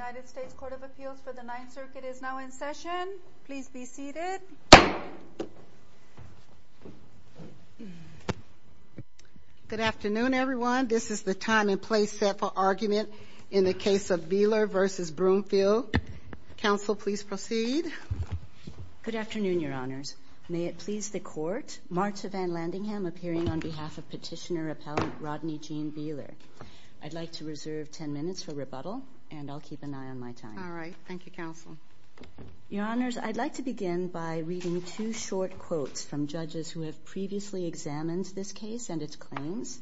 United States Court of Appeals for the Ninth Circuit is now in session. Please be seated. Good afternoon, everyone. This is the time and place set for argument in the case of Beeler v. Broomfield. Counsel, please proceed. Good afternoon, Your Honors. May it please the Court, Martha Van Landingham appearing on behalf of Petitioner Appellant Rodney Gene Beeler. I'd like to reserve ten minutes for rebuttal, and I'll keep an eye on my time. All right. Thank you, Counsel. Your Honors, I'd like to begin by reading two short quotes from judges who have previously examined this case and its claims.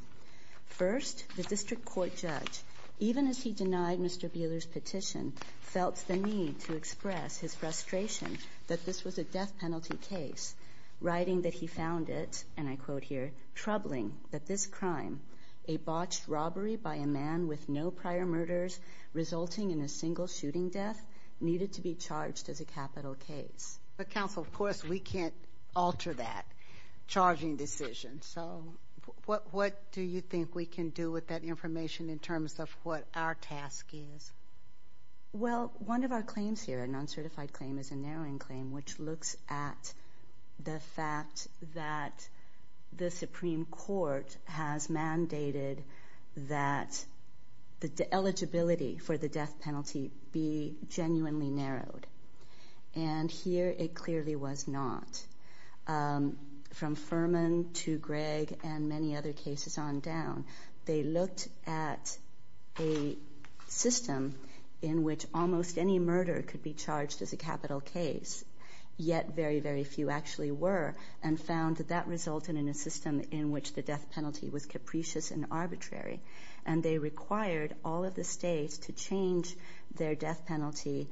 First, the District Court judge, even as he denied Mr. Beeler's petition, felt the need to express his frustration that this was a death penalty case, writing that he found it, and I quote here, troubling that this crime, a botched robbery by a man with no prior murders resulting in a single shooting death, needed to be charged as a capital case. But, Counsel, of course, we can't alter that charging decision. So what do you think we can do with that information in terms of what our task is? Well, one of our claims here, a non-certified claim, is a narrowing claim, which looks at the fact that the Supreme Court has mandated that the eligibility for the death penalty be genuinely narrowed. And here it clearly was not. From Furman to Gregg and many other cases on down, they looked at a system in which almost any murder could be charged as a capital case, yet very, very few actually were, and found that that resulted in a system in which the death penalty was capricious and arbitrary. And they required all of the states to change their death penalty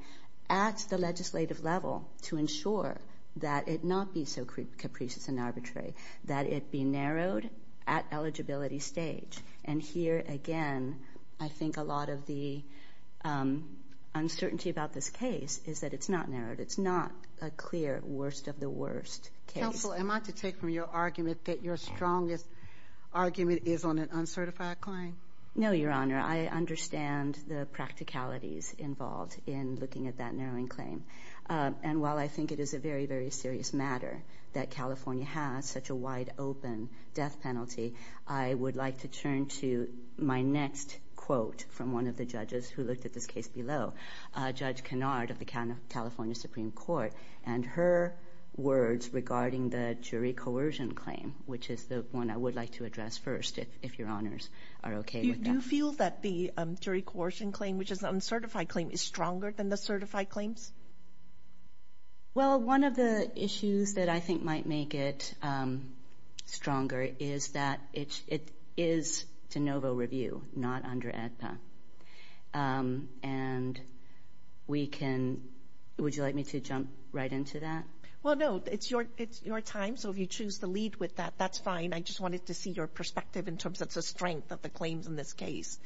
at the legislative level to ensure that it not be so capricious and arbitrary, that it be narrowed at eligibility stage. And here, again, I think a lot of the uncertainty about this case is that it's not narrowed. It's not a clear worst of the worst case. Counsel, am I to take from your argument that your strongest argument is on an uncertified claim? No, Your Honor. I understand the practicalities involved in looking at that narrowing claim. And while I think it is a very, very serious matter that California has such a wide-open death penalty, I would like to turn to my next quote from one of the judges who looked at this case below, Judge Kennard of the California Supreme Court, and her words regarding the jury coercion claim, which is the one I would like to address first, if Your Honors are okay with that. Do you feel that the jury coercion claim, which is an uncertified claim, is stronger than the certified claims? Well, one of the issues that I think might make it stronger is that it is de novo review, not under AEDPA. And we can – would you like me to jump right into that? Well, no, it's your time, so if you choose to lead with that, that's fine. I just wanted to see your perspective in terms of the strength of the claims in this case.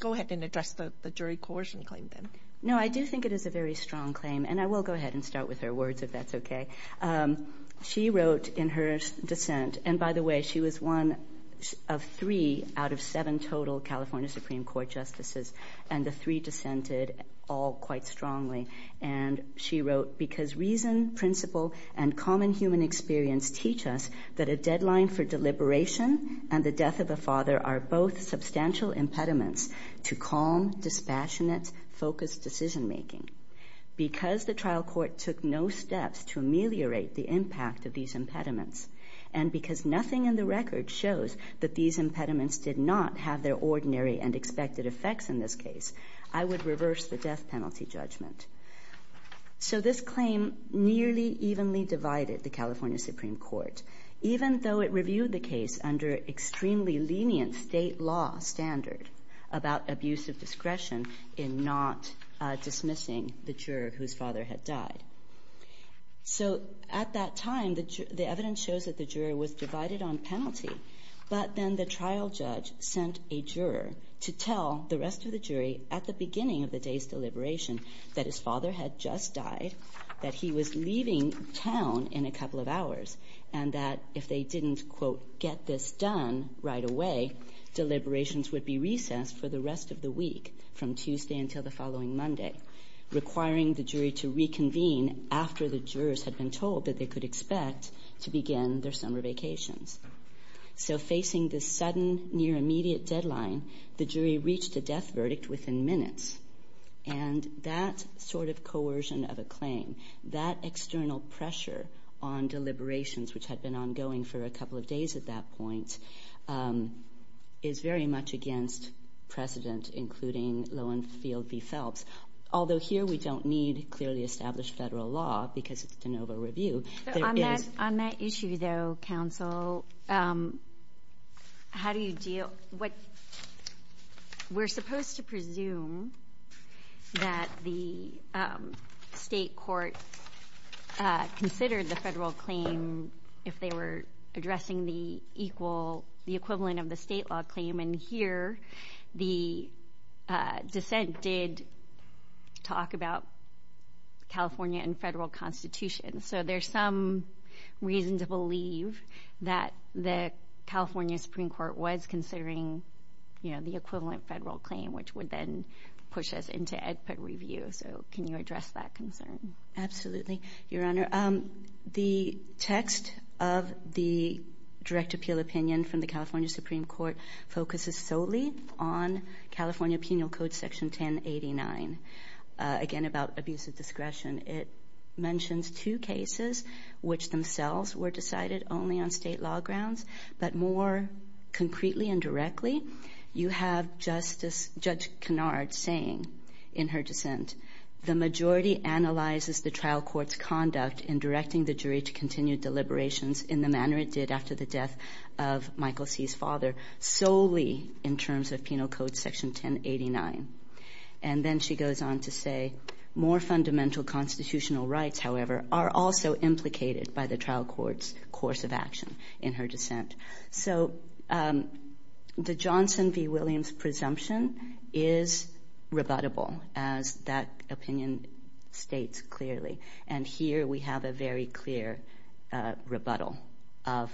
Go ahead and address the jury coercion claim, then. No, I do think it is a very strong claim, and I will go ahead and start with her words, if that's okay. She wrote in her dissent – and by the way, she was one of three out of seven total California Supreme Court justices, and the three dissented all quite strongly. And she wrote, Because reason, principle, and common human experience teach us that a deadline for deliberation and the death of a father are both substantial impediments to calm, dispassionate, focused decision making. Because the trial court took no steps to ameliorate the impact of these impediments, and because nothing in the record shows that these impediments did not have their ordinary and expected effects in this case, I would reverse the death penalty judgment. So this claim nearly evenly divided the California Supreme Court, even though it reviewed the case under extremely lenient state law standard about abusive discretion in not dismissing the juror whose father had died. So at that time, the evidence shows that the juror was divided on penalty, but then the trial judge sent a juror to tell the rest of the jury at the beginning of the day's deliberation that his father had just died, that he was leaving town in a couple of hours, and that if they didn't, quote, get this done right away, deliberations would be recessed for the rest of the week from Tuesday until the following Monday, requiring the jury to reconvene after the jurors had been told that they could expect to begin their summer vacations. So facing this sudden near-immediate deadline, the jury reached a death verdict within minutes. And that sort of coercion of a claim, that external pressure on deliberations, which had been ongoing for a couple of days at that point, is very much against precedent, including Lowenfeld v. Phelps. Although here we don't need clearly established federal law because it's de novo review. On that issue, though, counsel, how do you deal? We're supposed to presume that the state court considered the federal claim if they were addressing the equivalent of the state law claim. And here the dissent did talk about California and federal constitutions. So there's some reason to believe that the California Supreme Court was considering, you know, the equivalent federal claim, which would then push us into expert review. So can you address that concern? Absolutely, Your Honor. The text of the direct appeal opinion from the California Supreme Court focuses solely on California Penal Code Section 1089, again about abuse of discretion. It mentions two cases which themselves were decided only on state law grounds. But more concretely and directly, you have Justice Judge Kennard saying in her dissent, the majority analyzes the trial court's conduct in directing the jury to continue deliberations in the manner it did after the death of Michael C.'s father, solely in terms of Penal Code Section 1089. And then she goes on to say, more fundamental constitutional rights, however, are also implicated by the trial court's course of action in her dissent. So the Johnson v. Williams presumption is rebuttable, as that opinion states clearly. And here we have a very clear rebuttal of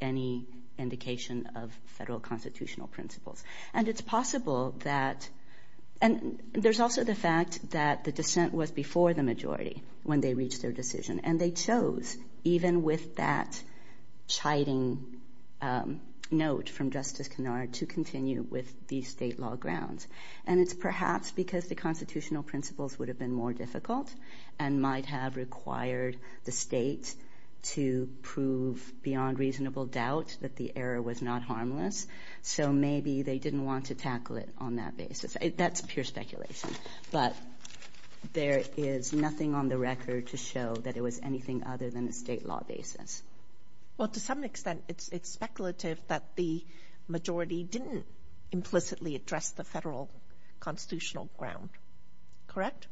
any indication of federal constitutional principles. And it's possible that – and there's also the fact that the dissent was before the majority when they reached their decision. And they chose, even with that chiding note from Justice Kennard, to continue with these state law grounds. And it's perhaps because the constitutional principles would have been more difficult and might have required the state to prove beyond reasonable doubt that the error was not harmless. So maybe they didn't want to tackle it on that basis. That's pure speculation. But there is nothing on the record to show that it was anything other than a state law basis. Well, to some extent, it's speculative that the majority didn't implicitly address the federal constitutional ground. Correct?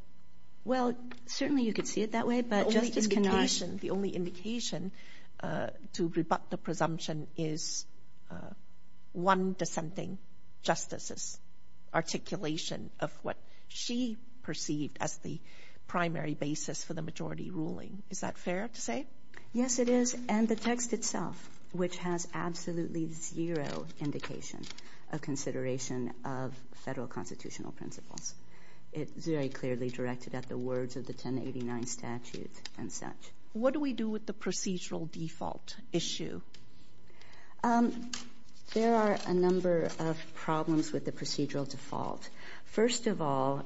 Well, certainly you could see it that way, but Justice Kennard – of what she perceived as the primary basis for the majority ruling. Is that fair to say? Yes, it is. And the text itself, which has absolutely zero indication of consideration of federal constitutional principles. It's very clearly directed at the words of the 1089 statute and such. What do we do with the procedural default issue? There are a number of problems with the procedural default. First of all,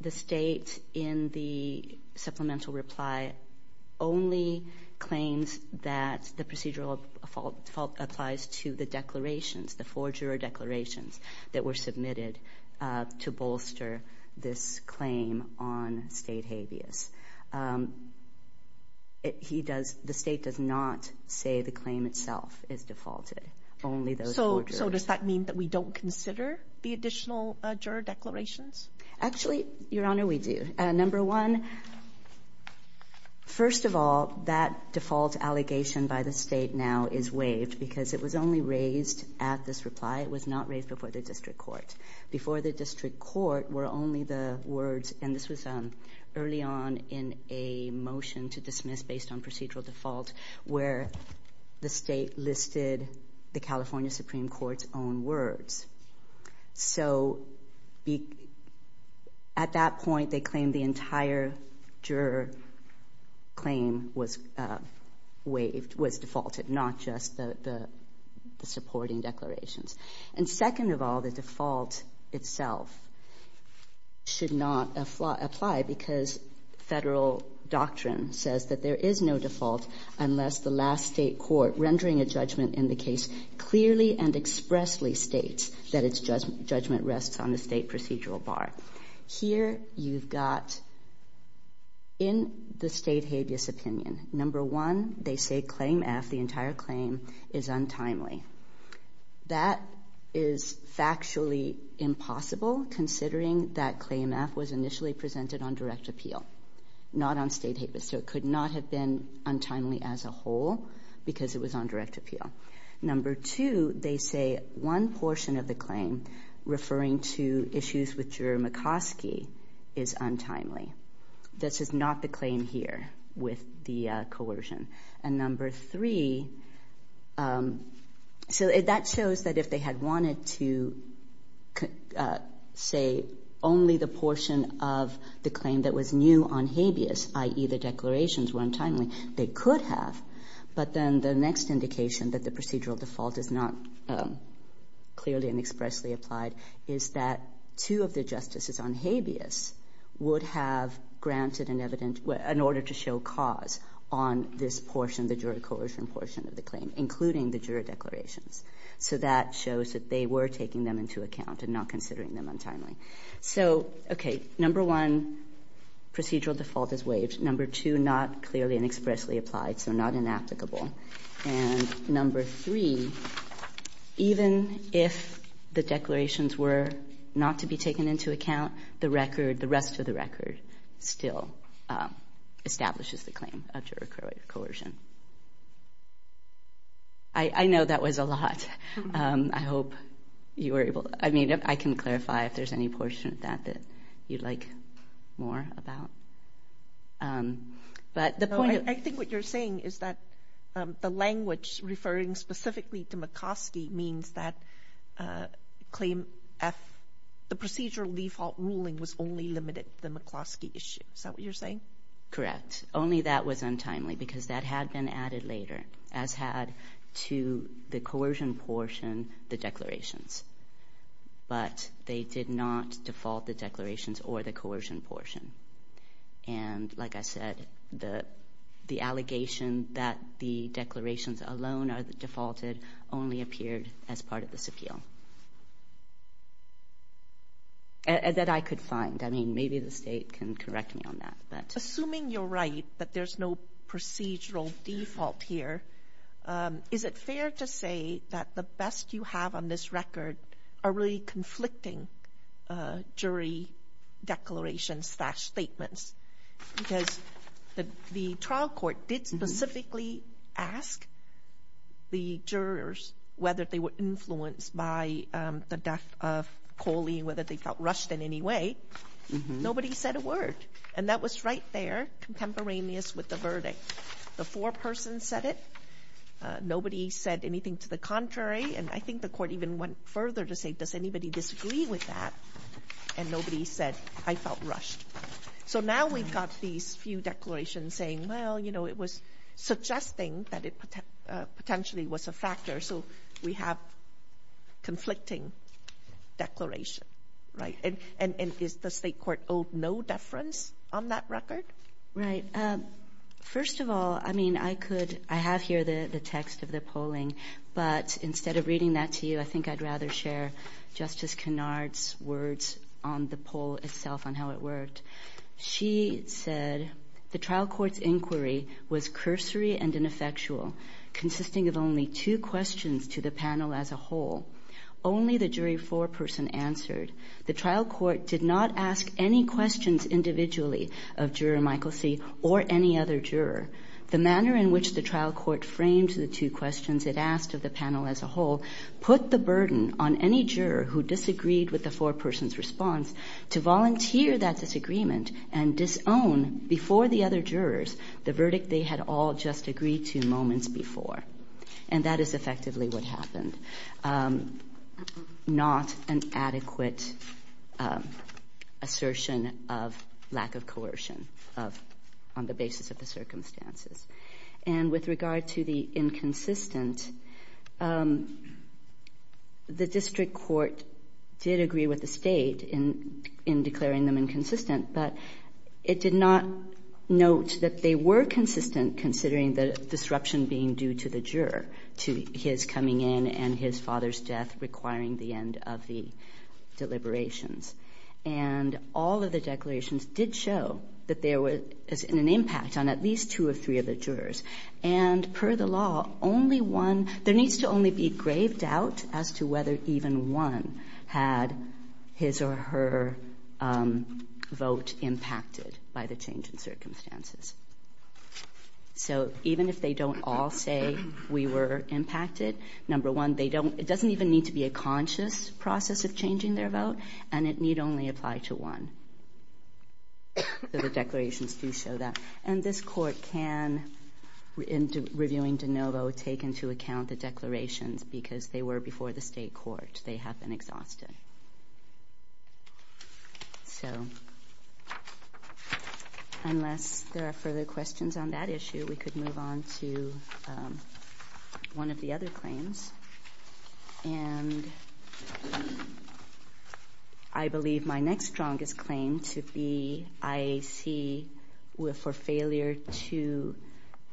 the state in the supplemental reply only claims that the procedural default applies to the declarations, the four juror declarations that were submitted to bolster this claim on state habeas. The state does not say the claim itself is defaulted, only those four jurors. So does that mean that we don't consider the additional juror declarations? Actually, Your Honor, we do. Number one, first of all, that default allegation by the state now is waived because it was only raised at this reply. It was not raised before the district court. Before the district court were only the words, and this was early on in a motion to dismiss based on procedural default, where the state listed the California Supreme Court's own words. So at that point, they claimed the entire juror claim was waived, was defaulted, not just the supporting declarations. And second of all, the default itself should not apply because federal doctrine says that there is no default unless the last state court rendering a judgment in the case clearly and expressly states that its judgment rests on the state procedural bar. Here you've got in the state habeas opinion, number one, they say claim F, the entire claim, is untimely. That is factually impossible considering that claim F was initially presented on direct appeal, not on state habeas. So it could not have been untimely as a whole because it was on direct appeal. Number two, they say one portion of the claim referring to issues with juror McCoskey is untimely. This is not the claim here with the coercion. And number three, so that shows that if they had wanted to say only the portion of the claim that was new on habeas, i.e. the declarations were untimely, they could have. But then the next indication that the procedural default is not clearly and expressly applied is that two of the justices on habeas would have granted an evidence in order to show cause on this portion, the juror coercion portion of the claim, including the juror declarations. So that shows that they were taking them into account and not considering them untimely. So, okay, number one, procedural default is waived. Number two, not clearly and expressly applied, so not inapplicable. And number three, even if the declarations were not to be taken into account, the record, the rest of the record still establishes the claim of juror coercion. I know that was a lot. I hope you were able to – I mean, I can clarify if there's any portion of that that you'd like more about. No, I think what you're saying is that the language referring specifically to McCloskey means that claim F, the procedural default ruling was only limited to the McCloskey issue. Is that what you're saying? Correct. Only that was untimely because that had been added later, as had to the coercion portion, the declarations. But they did not default the declarations or the coercion portion. And like I said, the allegation that the declarations alone are defaulted only appeared as part of this appeal, that I could find. I mean, maybe the State can correct me on that. Assuming you're right that there's no procedural default here, is it fair to say that the best you have on this record are really conflicting jury declarations-statements? Because the trial court did specifically ask the jurors whether they were influenced by the death of Coley and whether they felt rushed in any way. Nobody said a word. And that was right there contemporaneous with the verdict. The foreperson said it. Nobody said anything to the contrary. And I think the court even went further to say, does anybody disagree with that? And nobody said, I felt rushed. So now we've got these few declarations saying, well, you know, it was suggesting that it potentially was a factor. So we have conflicting declaration. And is the State court owed no deference on that record? Right. First of all, I mean, I could ‑‑ I have here the text of the polling. But instead of reading that to you, I think I'd rather share Justice Kennard's words on the poll itself, on how it worked. She said, the trial court's inquiry was cursory and ineffectual, consisting of only two questions to the panel as a whole. Only the jury foreperson answered. The trial court did not ask any questions individually of Juror Michael C. or any other juror. The manner in which the trial court framed the two questions it asked of the panel as a whole put the burden on any juror who disagreed with the foreperson's response to volunteer that disagreement and disown before the other jurors the verdict they had all just agreed to moments before. And that is effectively what happened. Not an adequate assertion of lack of coercion on the basis of the circumstances. And with regard to the inconsistent, the district court did agree with the State in declaring them inconsistent. But it did not note that they were consistent considering the disruption being due to the juror, to his coming in and his father's death requiring the end of the deliberations. And all of the declarations did show that there was an impact on at least two or three of the jurors. And per the law, only one, there needs to only be grave doubt as to whether even one had his or her vote impacted by the change in circumstances. So even if they don't all say we were impacted, number one, they don't, it doesn't even need to be a conscious process of changing their vote. And it need only apply to one. The declarations do show that. And this court can, in reviewing de novo, take into account the declarations because they were before the State court. They have been exhausted. So unless there are further questions on that issue, we could move on to one of the other claims. And I believe my next strongest claim to be IAC for failure to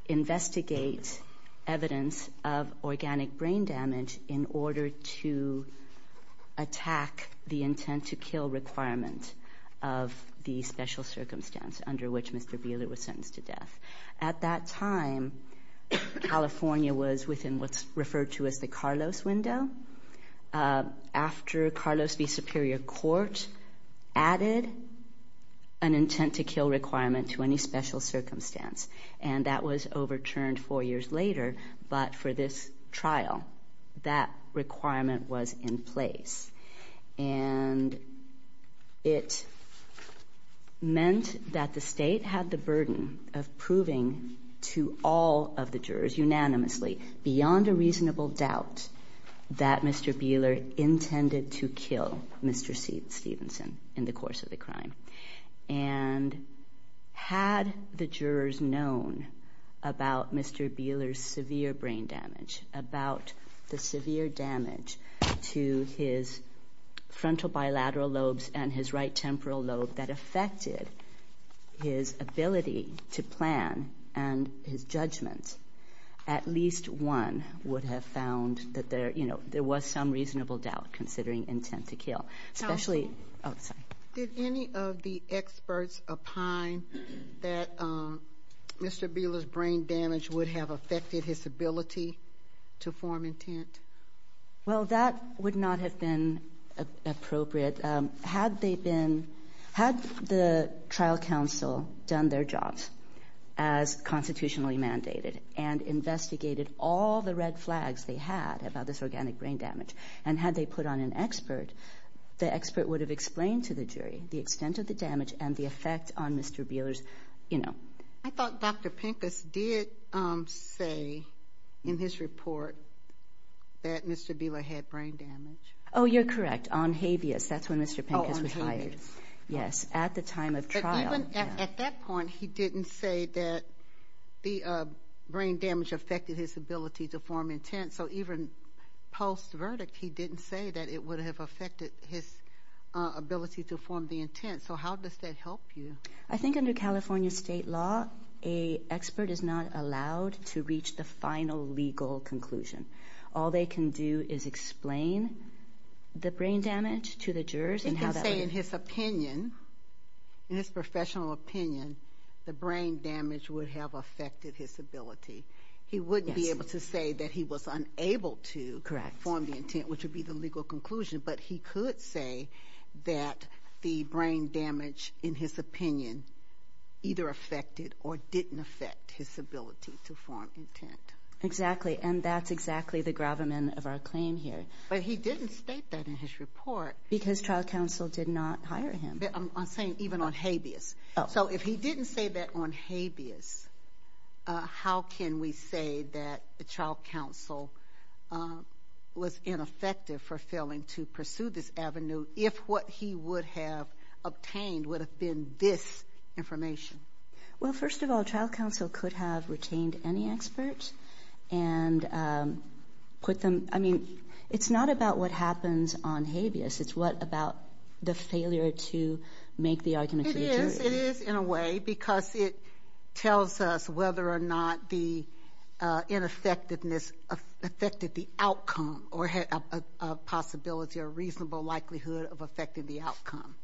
investigate evidence of organic brain damage in order to attack the intent to kill requirement of the special circumstance under which Mr. Beeler was sentenced to death. At that time, California was within what's referred to as the Carlos window after Carlos v. Superior Court added an intent to kill requirement to any special circumstance. And that was overturned four years later. But for this trial, that requirement was in place. And it meant that the State had the burden of proving to all of the jurors unanimously beyond a reasonable doubt that Mr. Beeler intended to kill Mr. Stevenson in the course of the crime. And had the jurors known about Mr. Beeler's severe brain damage, about the severe damage to his frontal bilateral lobes and his right temporal lobe that affected his ability to plan and his judgment, at least one would have found that there was some reasonable doubt considering intent to kill. Did any of the experts opine that Mr. Beeler's brain damage would have affected his ability to form intent? Well, that would not have been appropriate. Had they been, had the trial counsel done their jobs as constitutionally mandated and investigated all the red flags they had about this organic brain damage, and had they put on an expert, the expert would have explained to the jury the extent of the damage and the effect on Mr. Beeler's, you know. I thought Dr. Pincus did say in his report that Mr. Beeler had brain damage. Oh, you're correct, on habeas. That's when Mr. Pincus was hired. Oh, on habeas. Yes, at the time of trial. Even at that point, he didn't say that the brain damage affected his ability to form intent. So even post-verdict, he didn't say that it would have affected his ability to form the intent. So how does that help you? I think under California state law, an expert is not allowed to reach the final legal conclusion. All they can do is explain the brain damage to the jurors. He can say in his opinion, in his professional opinion, the brain damage would have affected his ability. He wouldn't be able to say that he was unable to form the intent, which would be the legal conclusion, but he could say that the brain damage, in his opinion, either affected or didn't affect his ability to form intent. Exactly, and that's exactly the gravamen of our claim here. But he didn't state that in his report. Because trial counsel did not hire him. I'm saying even on habeas. So if he didn't say that on habeas, how can we say that the trial counsel was ineffective for failing to pursue this avenue if what he would have obtained would have been this information? Well, first of all, trial counsel could have retained any experts and put them. I mean, it's not about what happens on habeas. It's what about the failure to make the argument to the jury. It is in a way because it tells us whether or not the ineffectiveness affected the outcome or had a possibility or reasonable likelihood of affecting the outcome.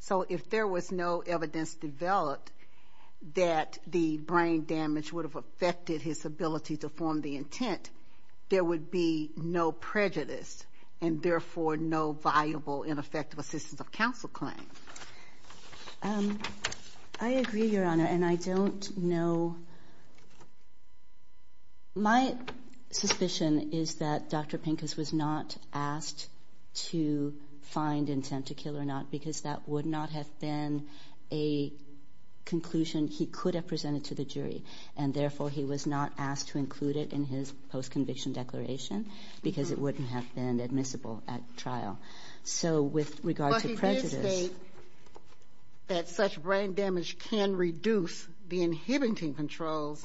So if there was no evidence developed that the brain damage would have affected his ability to form the intent, there would be no prejudice and, therefore, no viable ineffective assistance of counsel claim. I agree, Your Honor, and I don't know. My suspicion is that Dr. Pincus was not asked to find intent to kill or not because that would not have been a conclusion he could have presented to the jury, and, therefore, he was not asked to include it in his post-conviction declaration because it wouldn't have been admissible at trial. So with regard to prejudice... But he did state that such brain damage can reduce the inhibiting controls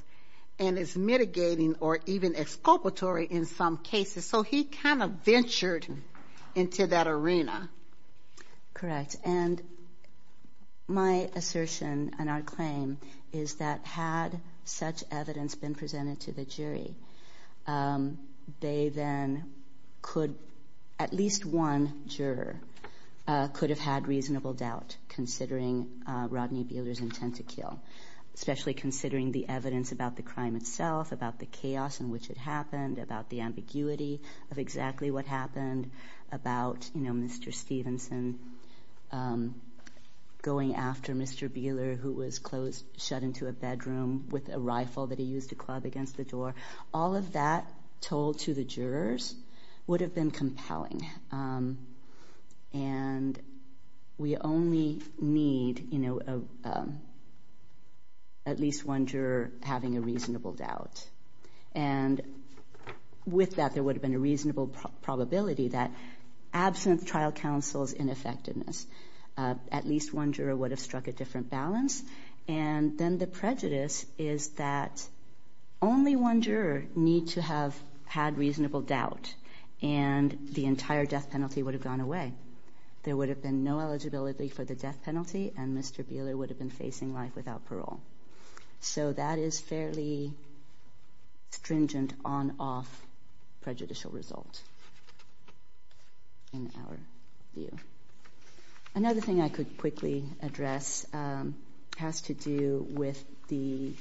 and is mitigating or even exculpatory in some cases, so he kind of ventured into that arena. Correct. And my assertion and our claim is that had such evidence been presented to the jury, they then could, at least one juror, could have had reasonable doubt considering Rodney Beeler's intent to kill, especially considering the evidence about the crime itself, about the chaos in which it happened, about the ambiguity of exactly what happened, about Mr. Stevenson going after Mr. Beeler, who was shut into a bedroom with a rifle that he used to club against the door. All of that told to the jurors would have been compelling, and we only need at least one juror having a reasonable doubt. And with that, there would have been a reasonable probability that, absent trial counsel's ineffectiveness, at least one juror would have struck a different balance. And then the prejudice is that only one juror need to have had reasonable doubt, and the entire death penalty would have gone away. There would have been no eligibility for the death penalty, and Mr. Beeler would have been facing life without parole. So that is fairly stringent on-off prejudicial result in our view. Another thing I could quickly address has to do with the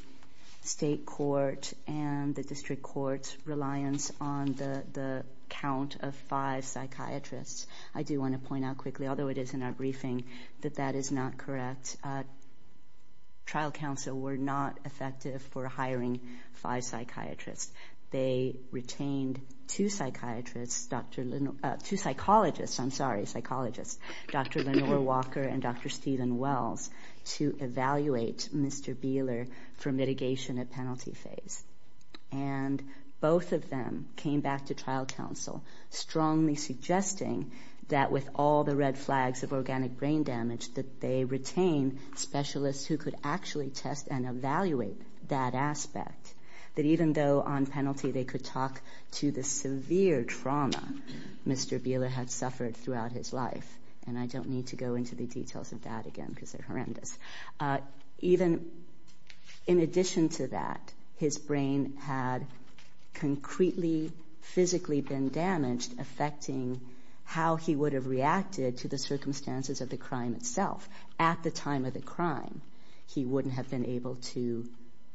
state court and the district court's reliance on the count of five psychiatrists. I do want to point out quickly, although it is in our briefing, that that is not correct. Trial counsel were not effective for hiring five psychiatrists. They retained two psychiatrists, two psychologists, I'm sorry, psychologists, Dr. Lenore Walker and Dr. Stephen Wells, to evaluate Mr. Beeler for mitigation at penalty phase. And both of them came back to trial counsel strongly suggesting that, with all the red flags of organic brain damage, that they retain specialists who could actually test and evaluate that aspect, that even though on penalty they could talk to the severe trauma Mr. Beeler had suffered throughout his life. And I don't need to go into the details of that again because they're horrendous. Even in addition to that, his brain had concretely physically been damaged, affecting how he would have reacted to the circumstances of the crime itself. At the time of the crime, he wouldn't have been able to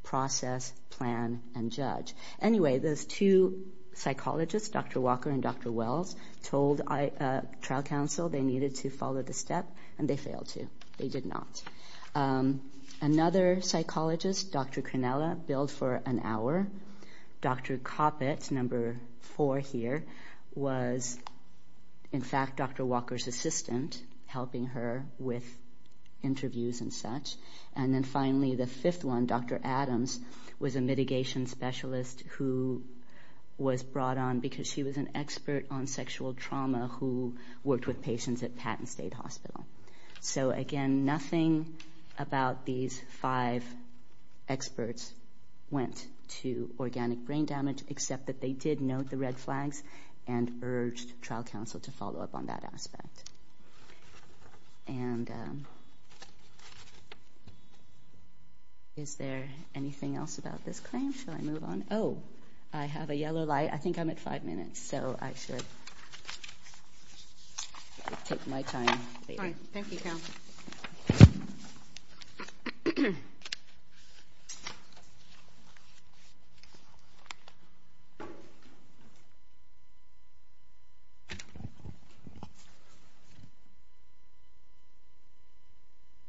process, plan, and judge. Anyway, those two psychologists, Dr. Walker and Dr. Wells, told trial counsel they needed to follow the step, and they failed to. They did not. Another psychologist, Dr. Cronella, billed for an hour. Dr. Coppett, number four here, was in fact Dr. Walker's assistant, helping her with interviews and such. And then finally the fifth one, Dr. Adams, was a mitigation specialist who was brought on because she was an expert on sexual trauma who worked with patients at Patton State Hospital. So again, nothing about these five experts went to organic brain damage except that they did note the red flags and urged trial counsel to follow up on that aspect. And is there anything else about this claim? Shall I move on? Oh, I have a yellow light. I think I'm at five minutes, so I should take my time. All right. Thank you, Carol.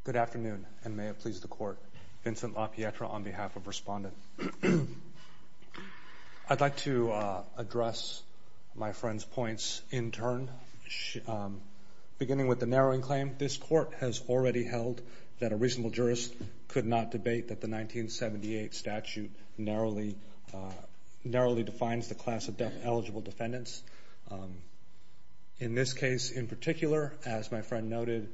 Good afternoon, and may it please the Court. Vincent LaPietra on behalf of Respondent. I'd like to address my friend's points in turn, beginning with the narrowing claim. This Court has already held that a reasonable jurist could not debate that the 1978 statute narrowly defines the class of deaf-eligible defendants. In this case in particular, as my friend noted,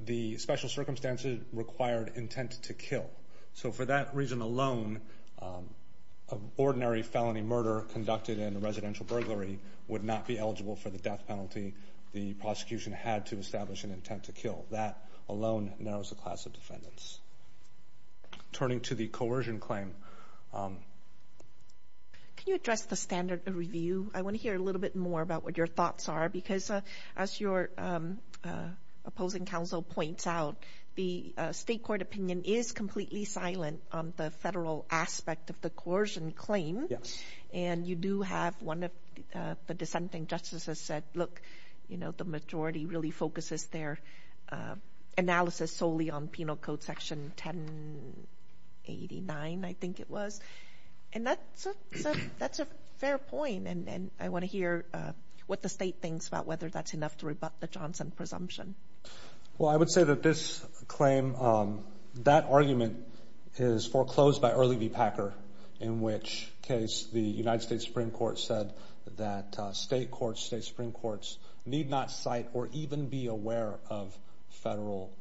the special circumstances required intent to kill. So for that reason alone, an ordinary felony murder conducted in a residential burglary would not be eligible for the death penalty the prosecution had to establish an intent to kill. That alone narrows the class of defendants. Turning to the coercion claim. Can you address the standard of review? I want to hear a little bit more about what your thoughts are because as your opposing counsel points out, the state court opinion is completely silent on the federal aspect of the coercion claim. And you do have one of the dissenting justices said, look, the majority really focuses their analysis solely on Penal Code Section 1089, I think it was. And that's a fair point, and I want to hear what the state thinks about whether that's enough to rebut the Johnson presumption. Well, I would say that this claim, that argument is foreclosed by Early v. Packer, in which case the United States Supreme Court said that state courts, state supreme courts need not cite or even be aware of federal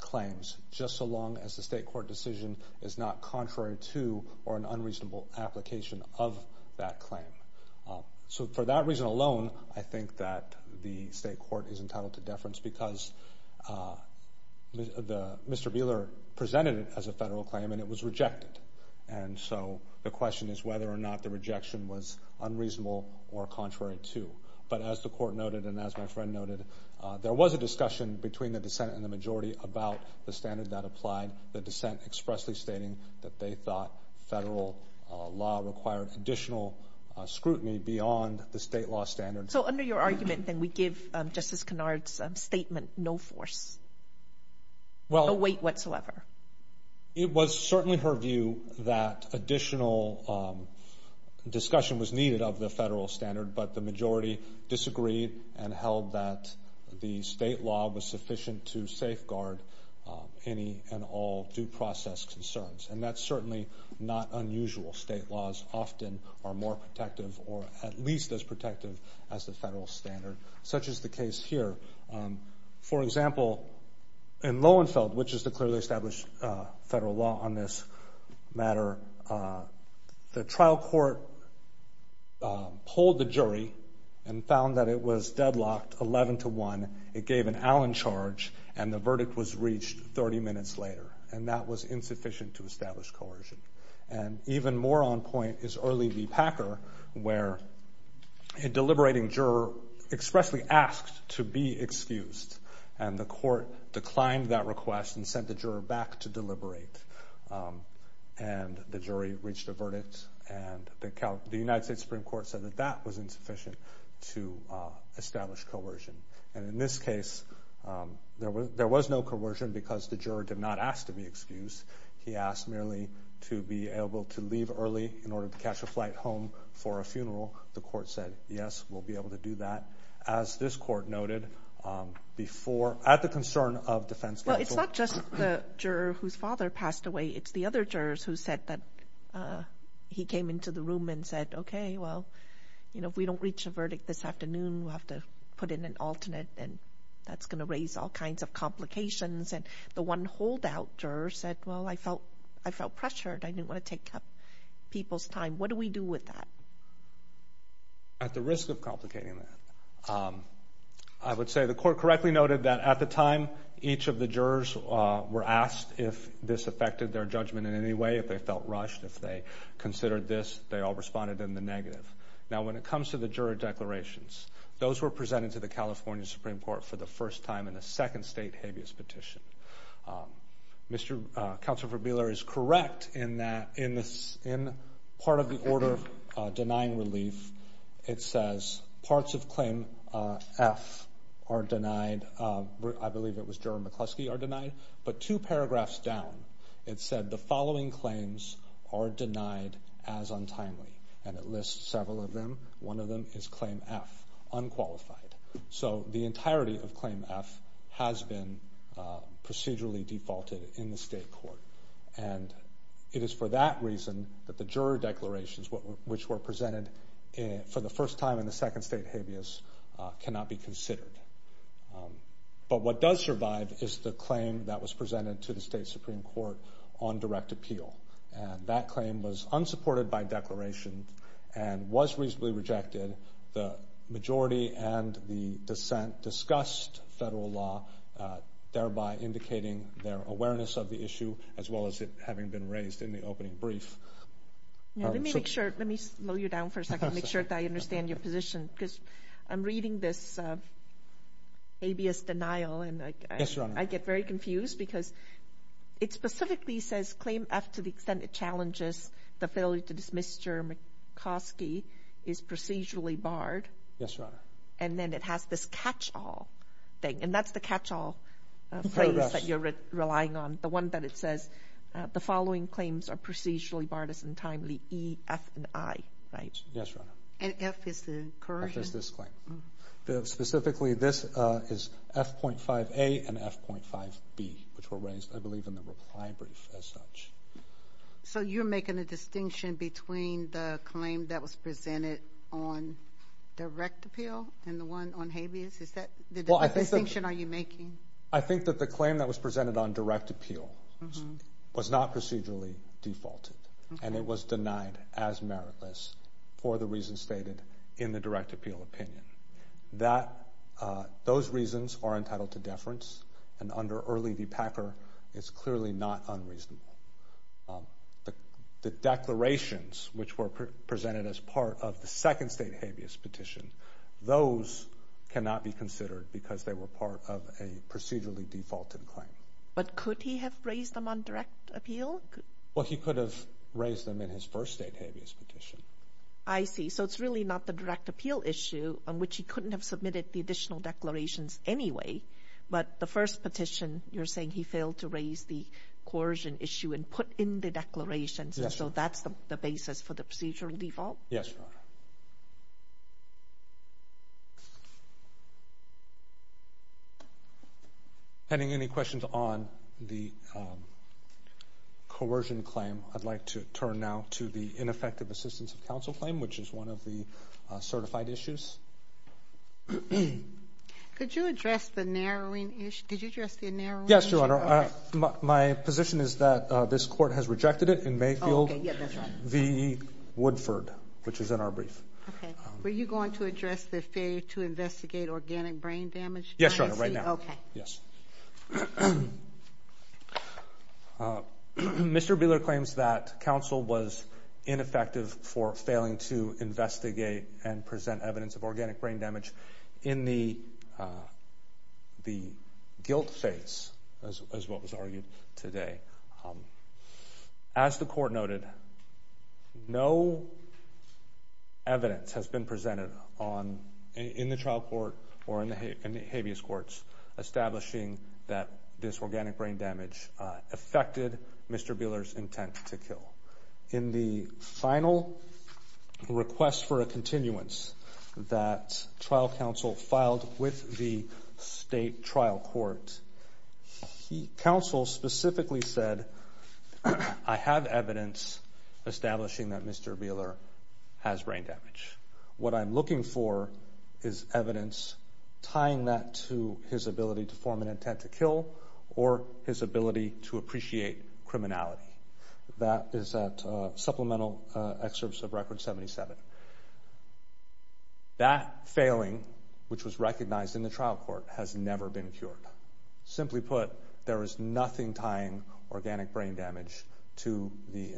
claims just so long as the state court decision is not contrary to or an unreasonable application of that claim. So for that reason alone, I think that the state court is entitled to deference because Mr. Buehler presented it as a federal claim and it was rejected. And so the question is whether or not the rejection was unreasonable or contrary to. But as the court noted and as my friend noted, there was a discussion between the dissent and the majority about the standard that applied, the dissent expressly stating that they thought federal law required additional scrutiny beyond the state law standards. So under your argument, then, we give Justice Kennard's statement no force, no weight whatsoever. It was certainly her view that additional discussion was needed of the federal standard, but the majority disagreed and held that the state law was sufficient to safeguard any and all due process concerns. And that's certainly not unusual. State laws often are more protective or at least as protective as the federal standard, such as the case here. For example, in Lowenfeld, which is the clearly established federal law on this matter, the trial court polled the jury and found that it was deadlocked 11 to 1. It gave an Allen charge and the verdict was reached 30 minutes later. And that was insufficient to establish coercion. And even more on point is Early v. Packer where a deliberating juror expressly asked to be excused and the court declined that request and sent the juror back to deliberate. And the jury reached a verdict and the United States Supreme Court said that that was insufficient to establish coercion. And in this case, there was no coercion because the juror did not ask to be excused. He asked merely to be able to leave early in order to catch a flight home for a funeral. The court said, yes, we'll be able to do that. As this court noted before at the concern of defense counsel. Well, it's not just the juror whose father passed away. It's the other jurors who said that he came into the room and said, okay, well, you know, if we don't reach a verdict this afternoon, we'll have to put in an alternate and that's going to raise all kinds of complications. And the one holdout juror said, well, I felt pressured. I didn't want to take up people's time. What do we do with that? At the risk of complicating that, I would say the court correctly noted that at the time, each of the jurors were asked if this affected their judgment in any way, if they felt rushed, if they considered this, they all responded in the negative. Now, when it comes to the juror declarations, those were presented to the California Supreme Court for the first time in a second state habeas petition. Counsel for Beeler is correct in that in part of the order denying relief, it says parts of claim F are denied. I believe it was juror McCluskey are denied. But two paragraphs down, it said the following claims are denied as untimely. And it lists several of them. One of them is claim F, unqualified. So the entirety of claim F has been procedurally defaulted in the state court. And it is for that reason that the juror declarations, which were presented for the first time in a second state habeas, cannot be considered. But what does survive is the claim that was presented to the state Supreme Court on direct appeal. And that claim was unsupported by declaration and was reasonably rejected. The majority and the dissent discussed federal law, thereby indicating their awareness of the issue, as well as it having been raised in the opening brief. Let me slow you down for a second, make sure that I understand your position, because I'm reading this habeas denial and I get very confused because it specifically says claim F to the extent it challenges the failure to dismiss juror McCluskey is procedurally barred. Yes, Your Honor. And then it has this catch-all thing, and that's the catch-all phrase that you're relying on, the one that it says the following claims are procedurally barred as untimely, E, F, and I, right? Yes, Your Honor. And F is the current? F is this claim. Specifically, this is F.5A and F.5B, which were raised, I believe, in the reply brief as such. So you're making a distinction between the claim that was presented on direct appeal and the one on habeas? Is that the distinction you're making? I think that the claim that was presented on direct appeal was not procedurally defaulted, and it was denied as meritless for the reasons stated in the direct appeal opinion. Those reasons are entitled to deference, and under Early v. Packer, it's clearly not unreasonable. The declarations, which were presented as part of the second state habeas petition, those cannot be considered because they were part of a procedurally defaulted claim. But could he have raised them on direct appeal? Well, he could have raised them in his first state habeas petition. I see. So it's really not the direct appeal issue on which he couldn't have submitted the additional declarations anyway, but the first petition you're saying he failed to raise the coercion issue and put in the declarations, and so that's the basis for the procedural default? Yes, Your Honor. Okay. Any questions on the coercion claim? I'd like to turn now to the ineffective assistance of counsel claim, which is one of the certified issues. Could you address the narrowing issue? Yes, Your Honor. My position is that this court has rejected it in Mayfield v. Woodford, which is in our brief. Okay. Were you going to address the failure to investigate organic brain damage? Yes, Your Honor, right now. Okay. Yes. Mr. Buehler claims that counsel was ineffective for failing to investigate and present evidence of organic brain damage in the guilt phase, as what was argued today. As the court noted, no evidence has been presented in the trial court or in the habeas courts establishing that this organic brain damage affected Mr. Buehler's intent to kill. In the final request for a continuance that trial counsel filed with the state trial court, counsel specifically said, I have evidence establishing that Mr. Buehler has brain damage. What I'm looking for is evidence tying that to his ability to form an intent to kill or his ability to appreciate criminality. That is at supplemental excerpts of Record 77. That failing, which was recognized in the trial court, has never been cured. Simply put, there is nothing tying organic brain damage to the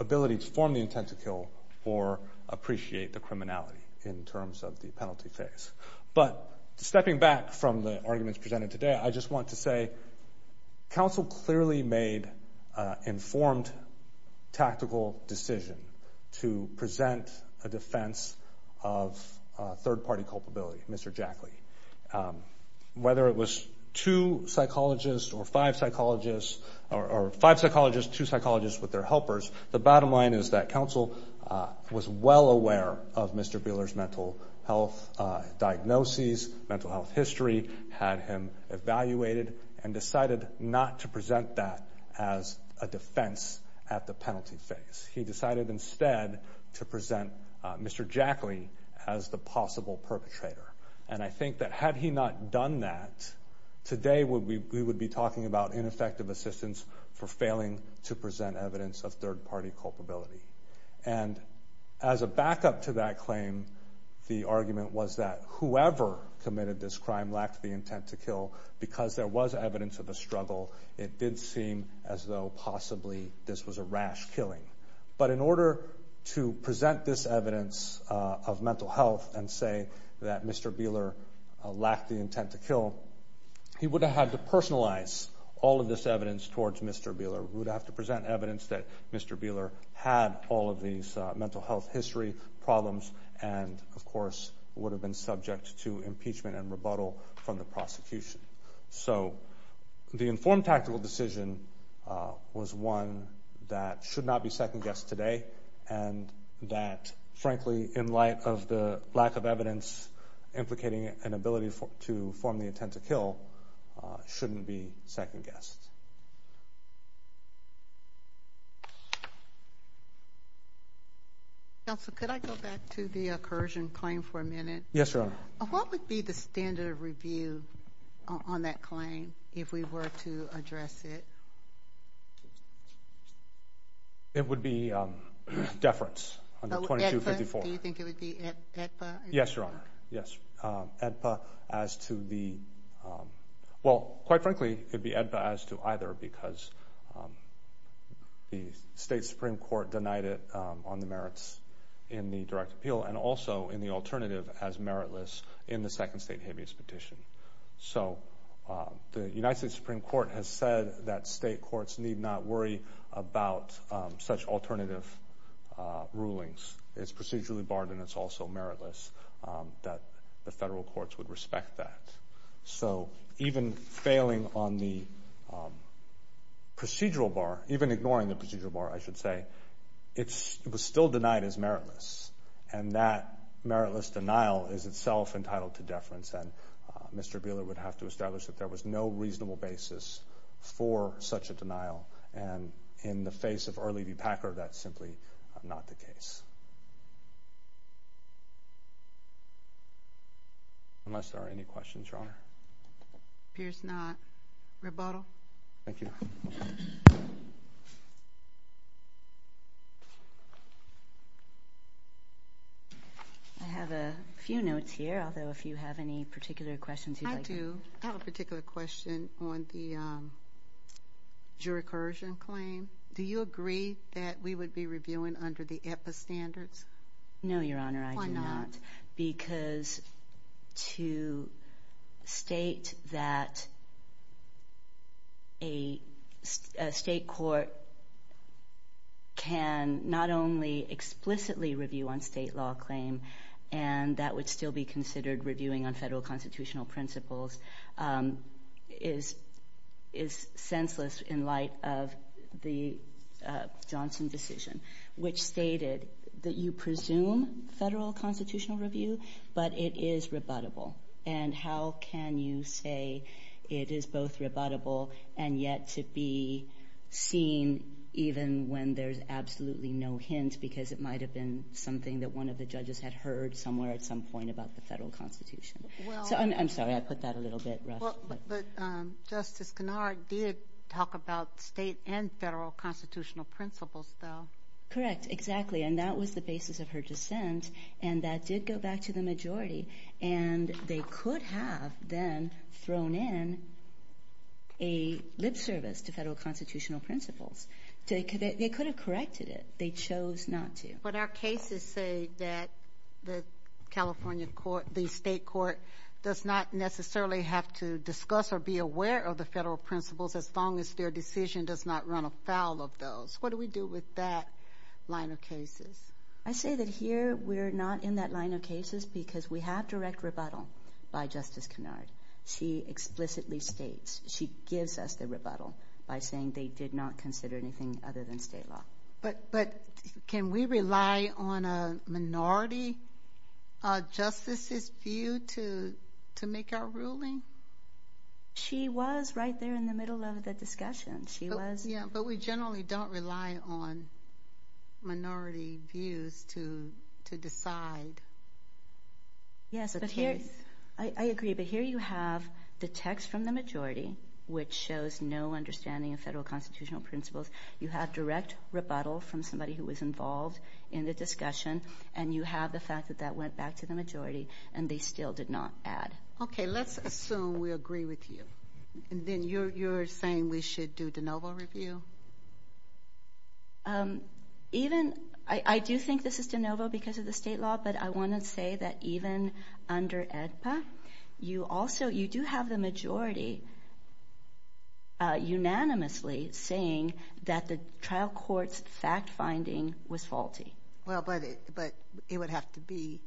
ability to form the intent to kill or appreciate the criminality in terms of the penalty phase. But stepping back from the arguments presented today, I just want to say that counsel clearly made an informed tactical decision to present a defense of third-party culpability, Mr. Jackley. Whether it was two psychologists or five psychologists or five psychologists, two psychologists with their helpers, the bottom line is that counsel was well aware of Mr. Buehler's mental health diagnoses, mental health history, had him evaluated, and decided not to present that as a defense at the penalty phase. He decided instead to present Mr. Jackley as the possible perpetrator. And I think that had he not done that, today we would be talking about ineffective assistance for failing to present evidence of third-party culpability. And as a backup to that claim, the argument was that whoever committed this crime lacked the intent to kill. Because there was evidence of a struggle, it did seem as though possibly this was a rash killing. But in order to present this evidence of mental health and say that Mr. Buehler lacked the intent to kill, he would have had to personalize all of this evidence towards Mr. Buehler. He would have to present evidence that Mr. Buehler had all of these mental health history problems and, of course, would have been subject to impeachment and rebuttal from the prosecution. So the informed tactical decision was one that should not be second-guessed today and that, frankly, in light of the lack of evidence implicating an ability to form the intent to kill, shouldn't be second-guessed. Counsel, could I go back to the accursion claim for a minute? Yes, Your Honor. What would be the standard of review on that claim if we were to address it? It would be deference under 2254. Do you think it would be AEDPA? Yes, Your Honor. AEDPA as to the – well, quite frankly, it would be AEDPA as to either because the state Supreme Court denied it on the merits in the direct appeal and also in the alternative as meritless in the second state habeas petition. So the United States Supreme Court has said that state courts need not worry about such alternative rulings. It's procedurally barred and it's also meritless, that the federal courts would respect that. So even failing on the procedural bar, even ignoring the procedural bar, I should say, it was still denied as meritless and that meritless denial is itself entitled to deference and Mr. Buehler would have to establish that there was no reasonable basis for such a denial and in the face of Early v. Packer, that's simply not the case. Unless there are any questions, Your Honor. Appears not. Rebuttal. Thank you. I have a few notes here, although if you have any particular questions you'd like – Do you agree that we would be reviewing under the AEDPA standards? No, Your Honor, I do not. Because to state that a state court can not only explicitly review on state law claim and that would still be considered reviewing on federal constitutional principles is senseless in light of the Johnson decision, which stated that you presume federal constitutional review, but it is rebuttable. And how can you say it is both rebuttable and yet to be seen even when there's absolutely no hint because it might have been something that one of the judges had heard somewhere at some point about the federal constitution. Well – I'm sorry, I put that a little bit rough. But Justice Kinnard did talk about state and federal constitutional principles, though. Correct, exactly. And that was the basis of her dissent, and that did go back to the majority. And they could have then thrown in a lip service to federal constitutional principles. They could have corrected it. They chose not to. But our cases say that the California court, the state court, does not necessarily have to discuss or be aware of the federal principles as long as their decision does not run afoul of those. What do we do with that line of cases? I say that here we're not in that line of cases because we have direct rebuttal by Justice Kinnard. She explicitly states. She gives us the rebuttal by saying they did not consider anything other than state law. But can we rely on a minority justice's view to make our ruling? She was right there in the middle of the discussion. She was. Yeah, but we generally don't rely on minority views to decide. Yes, but here you have the text from the majority, which shows no understanding of federal constitutional principles. You have direct rebuttal from somebody who was involved in the discussion, and you have the fact that that went back to the majority and they still did not add. Okay, let's assume we agree with you. Then you're saying we should do de novo review? I do think this is de novo because of the state law, but I want to say that even under AEDPA, you do have the majority unanimously saying that the trial court's fact-finding was faulty. Well, but it would have to be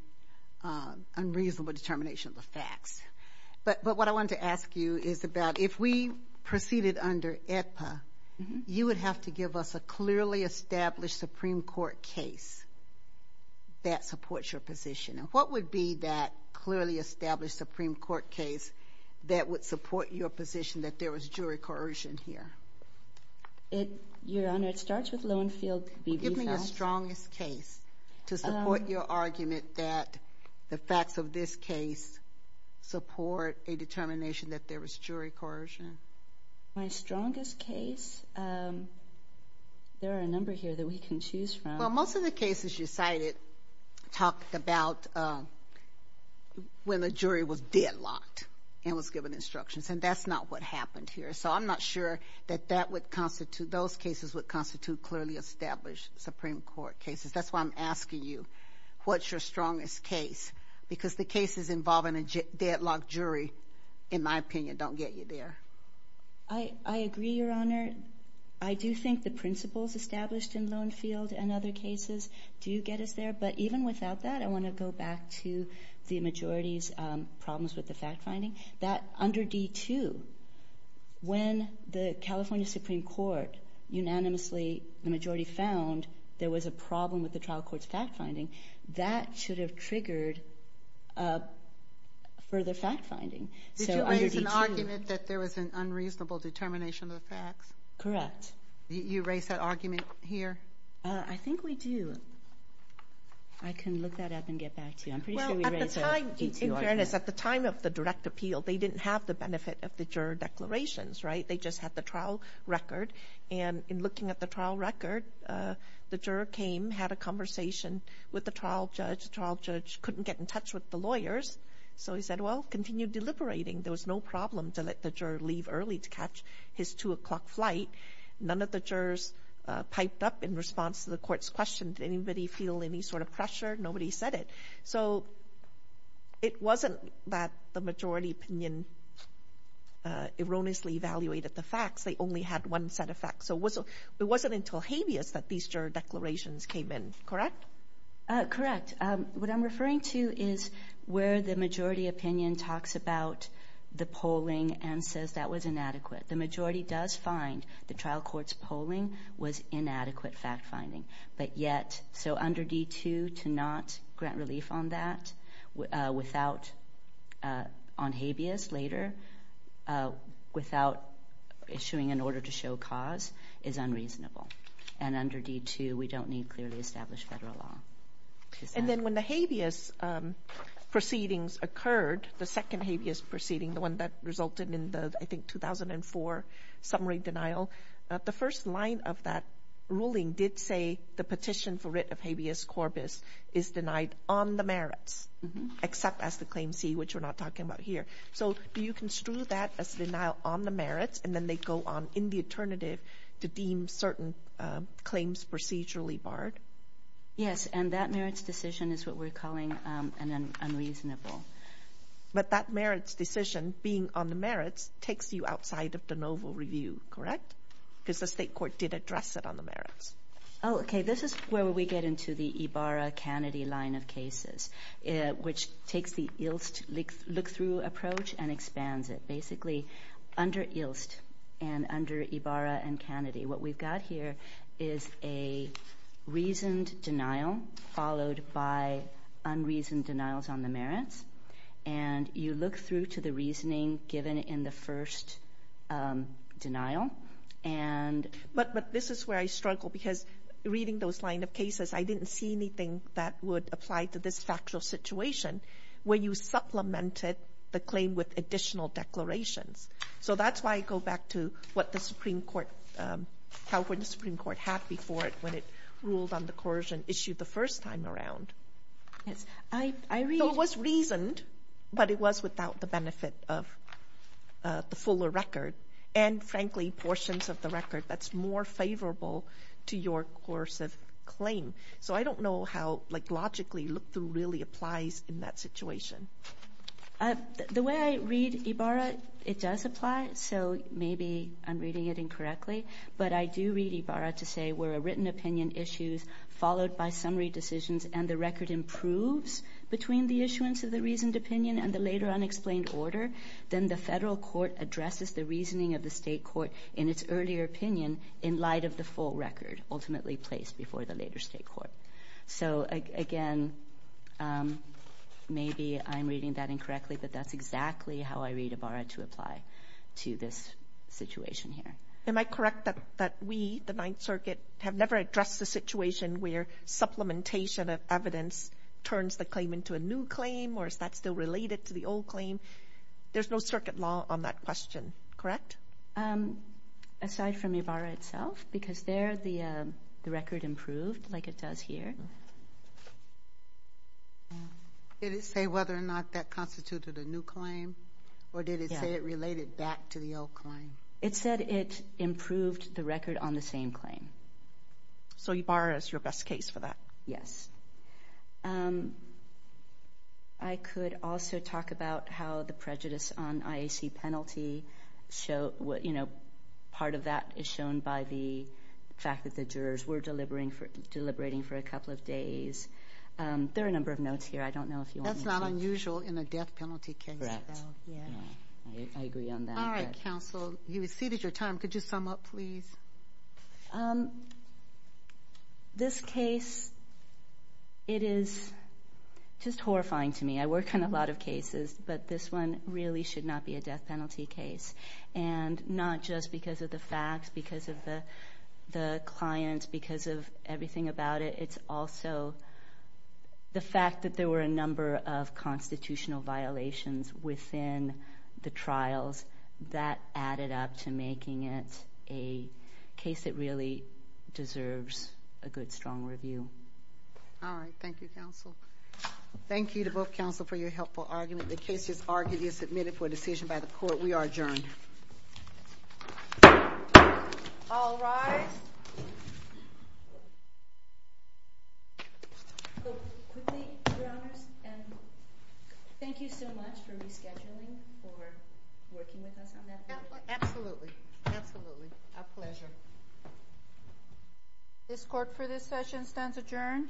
unreasonable determination of the facts. But what I wanted to ask you is about if we proceeded under AEDPA, you would have to give us a clearly established Supreme Court case that supports your position. What would be that clearly established Supreme Court case that would support your position that there was jury coercion here? Your Honor, it starts with Lowenfield v. Beehouse. Give me your strongest case to support your argument that the facts of this case support a determination that there was jury coercion. My strongest case, there are a number here that we can choose from. Well, most of the cases you cited talked about when the jury was deadlocked and was given instructions, and that's not what happened here. So I'm not sure that those cases would constitute clearly established Supreme Court cases. That's why I'm asking you, what's your strongest case? Because the cases involving a deadlocked jury, in my opinion, don't get you there. I agree, Your Honor. I do think the principles established in Lowenfield and other cases do get us there. But even without that, I want to go back to the majority's problems with the fact-finding. Under D-2, when the California Supreme Court unanimously, the majority found, there was a problem with the trial court's fact-finding, that should have triggered further fact-finding. Did you raise an argument that there was an unreasonable determination of the facts? Correct. You raised that argument here? I think we do. I can look that up and get back to you. I'm pretty sure we raised a D-2 argument. Well, at the time, in fairness, at the time of the direct appeal, they didn't have the benefit of the juror declarations, right? They just had the trial record. And in looking at the trial record, the juror came, had a conversation with the trial judge. The trial judge couldn't get in touch with the lawyers. So he said, well, continue deliberating. There was no problem to let the juror leave early to catch his 2 o'clock flight. None of the jurors piped up in response to the court's question. Did anybody feel any sort of pressure? Nobody said it. So it wasn't that the majority opinion erroneously evaluated the facts. They only had one set of facts. So it wasn't until habeas that these juror declarations came in, correct? Correct. What I'm referring to is where the majority opinion talks about the polling and says that was inadequate. The majority does find the trial court's polling was inadequate fact-finding. But yet, so under D-2, to not grant relief on that without on habeas later, without issuing an order to show cause, is unreasonable. And under D-2, we don't need clearly established federal law. And then when the habeas proceedings occurred, the second habeas proceeding, the one that resulted in the, I think, 2004 summary denial, the first line of that ruling did say the petition for writ of habeas corpus is denied on the merits, except as the Claim C, which we're not talking about here. So do you construe that as denial on the merits, and then they go on in the alternative to deem certain claims procedurally barred? Yes, and that merits decision is what we're calling an unreasonable. But that merits decision, being on the merits, takes you outside of de novo review, correct? Because the state court did address it on the merits. Oh, okay. This is where we get into the Ibarra-Kennedy line of cases, which takes the ILST look-through approach and expands it. Basically, under ILST and under Ibarra and Kennedy, what we've got here is a reasoned denial followed by unreasoned denials on the merits. And you look through to the reasoning given in the first denial. But this is where I struggle, because reading those line of cases, I didn't see anything that would apply to this factual situation where you supplemented the claim with additional declarations. So that's why I go back to how the Supreme Court had before it when it ruled on the coercion issue the first time around. It was reasoned, but it was without the benefit of the fuller record and, frankly, portions of the record that's more favorable to your coercive claim. So I don't know how logically look-through really applies in that situation. The way I read Ibarra, it does apply. So maybe I'm reading it incorrectly, but I do read Ibarra to say where a written opinion issues followed by summary decisions and the record improves between the issuance of the reasoned opinion and the later unexplained order, then the federal court addresses the reasoning of the state court in its earlier opinion in light of the full record ultimately placed before the later state court. So, again, maybe I'm reading that incorrectly, but that's exactly how I read Ibarra to apply to this situation here. Am I correct that we, the Ninth Circuit, have never addressed the situation where supplementation of evidence turns the claim into a new claim, or is that still related to the old claim? There's no circuit law on that question, correct? Aside from Ibarra itself, because there the record improved like it does here. Did it say whether or not that constituted a new claim, or did it say it related back to the old claim? It said it improved the record on the same claim. So Ibarra is your best case for that? Yes. I could also talk about how the prejudice on IAC penalty, part of that is shown by the fact that the jurors were delivering for a couple of days. There are a number of notes here. I don't know if you want me to... That's not unusual in a death penalty case. I agree on that. All right, counsel. You've exceeded your time. Could you sum up, please? This case, it is just horrifying to me. I work on a lot of cases, but this one really should not be a death penalty case, and not just because of the facts, because of the clients, because of everything about it. It's also the fact that there were a number of constitutional violations within the trials that added up to making it a case that really deserves a good, strong review. All right. Thank you, counsel. Thank you to both counsel for your helpful argument. The case is argued and submitted for a decision by the court. We are adjourned. All rise. Quickly, Your Honors, thank you so much for rescheduling, for working with us on that case. Absolutely. Absolutely. A pleasure. This court, for this session, stands adjourned.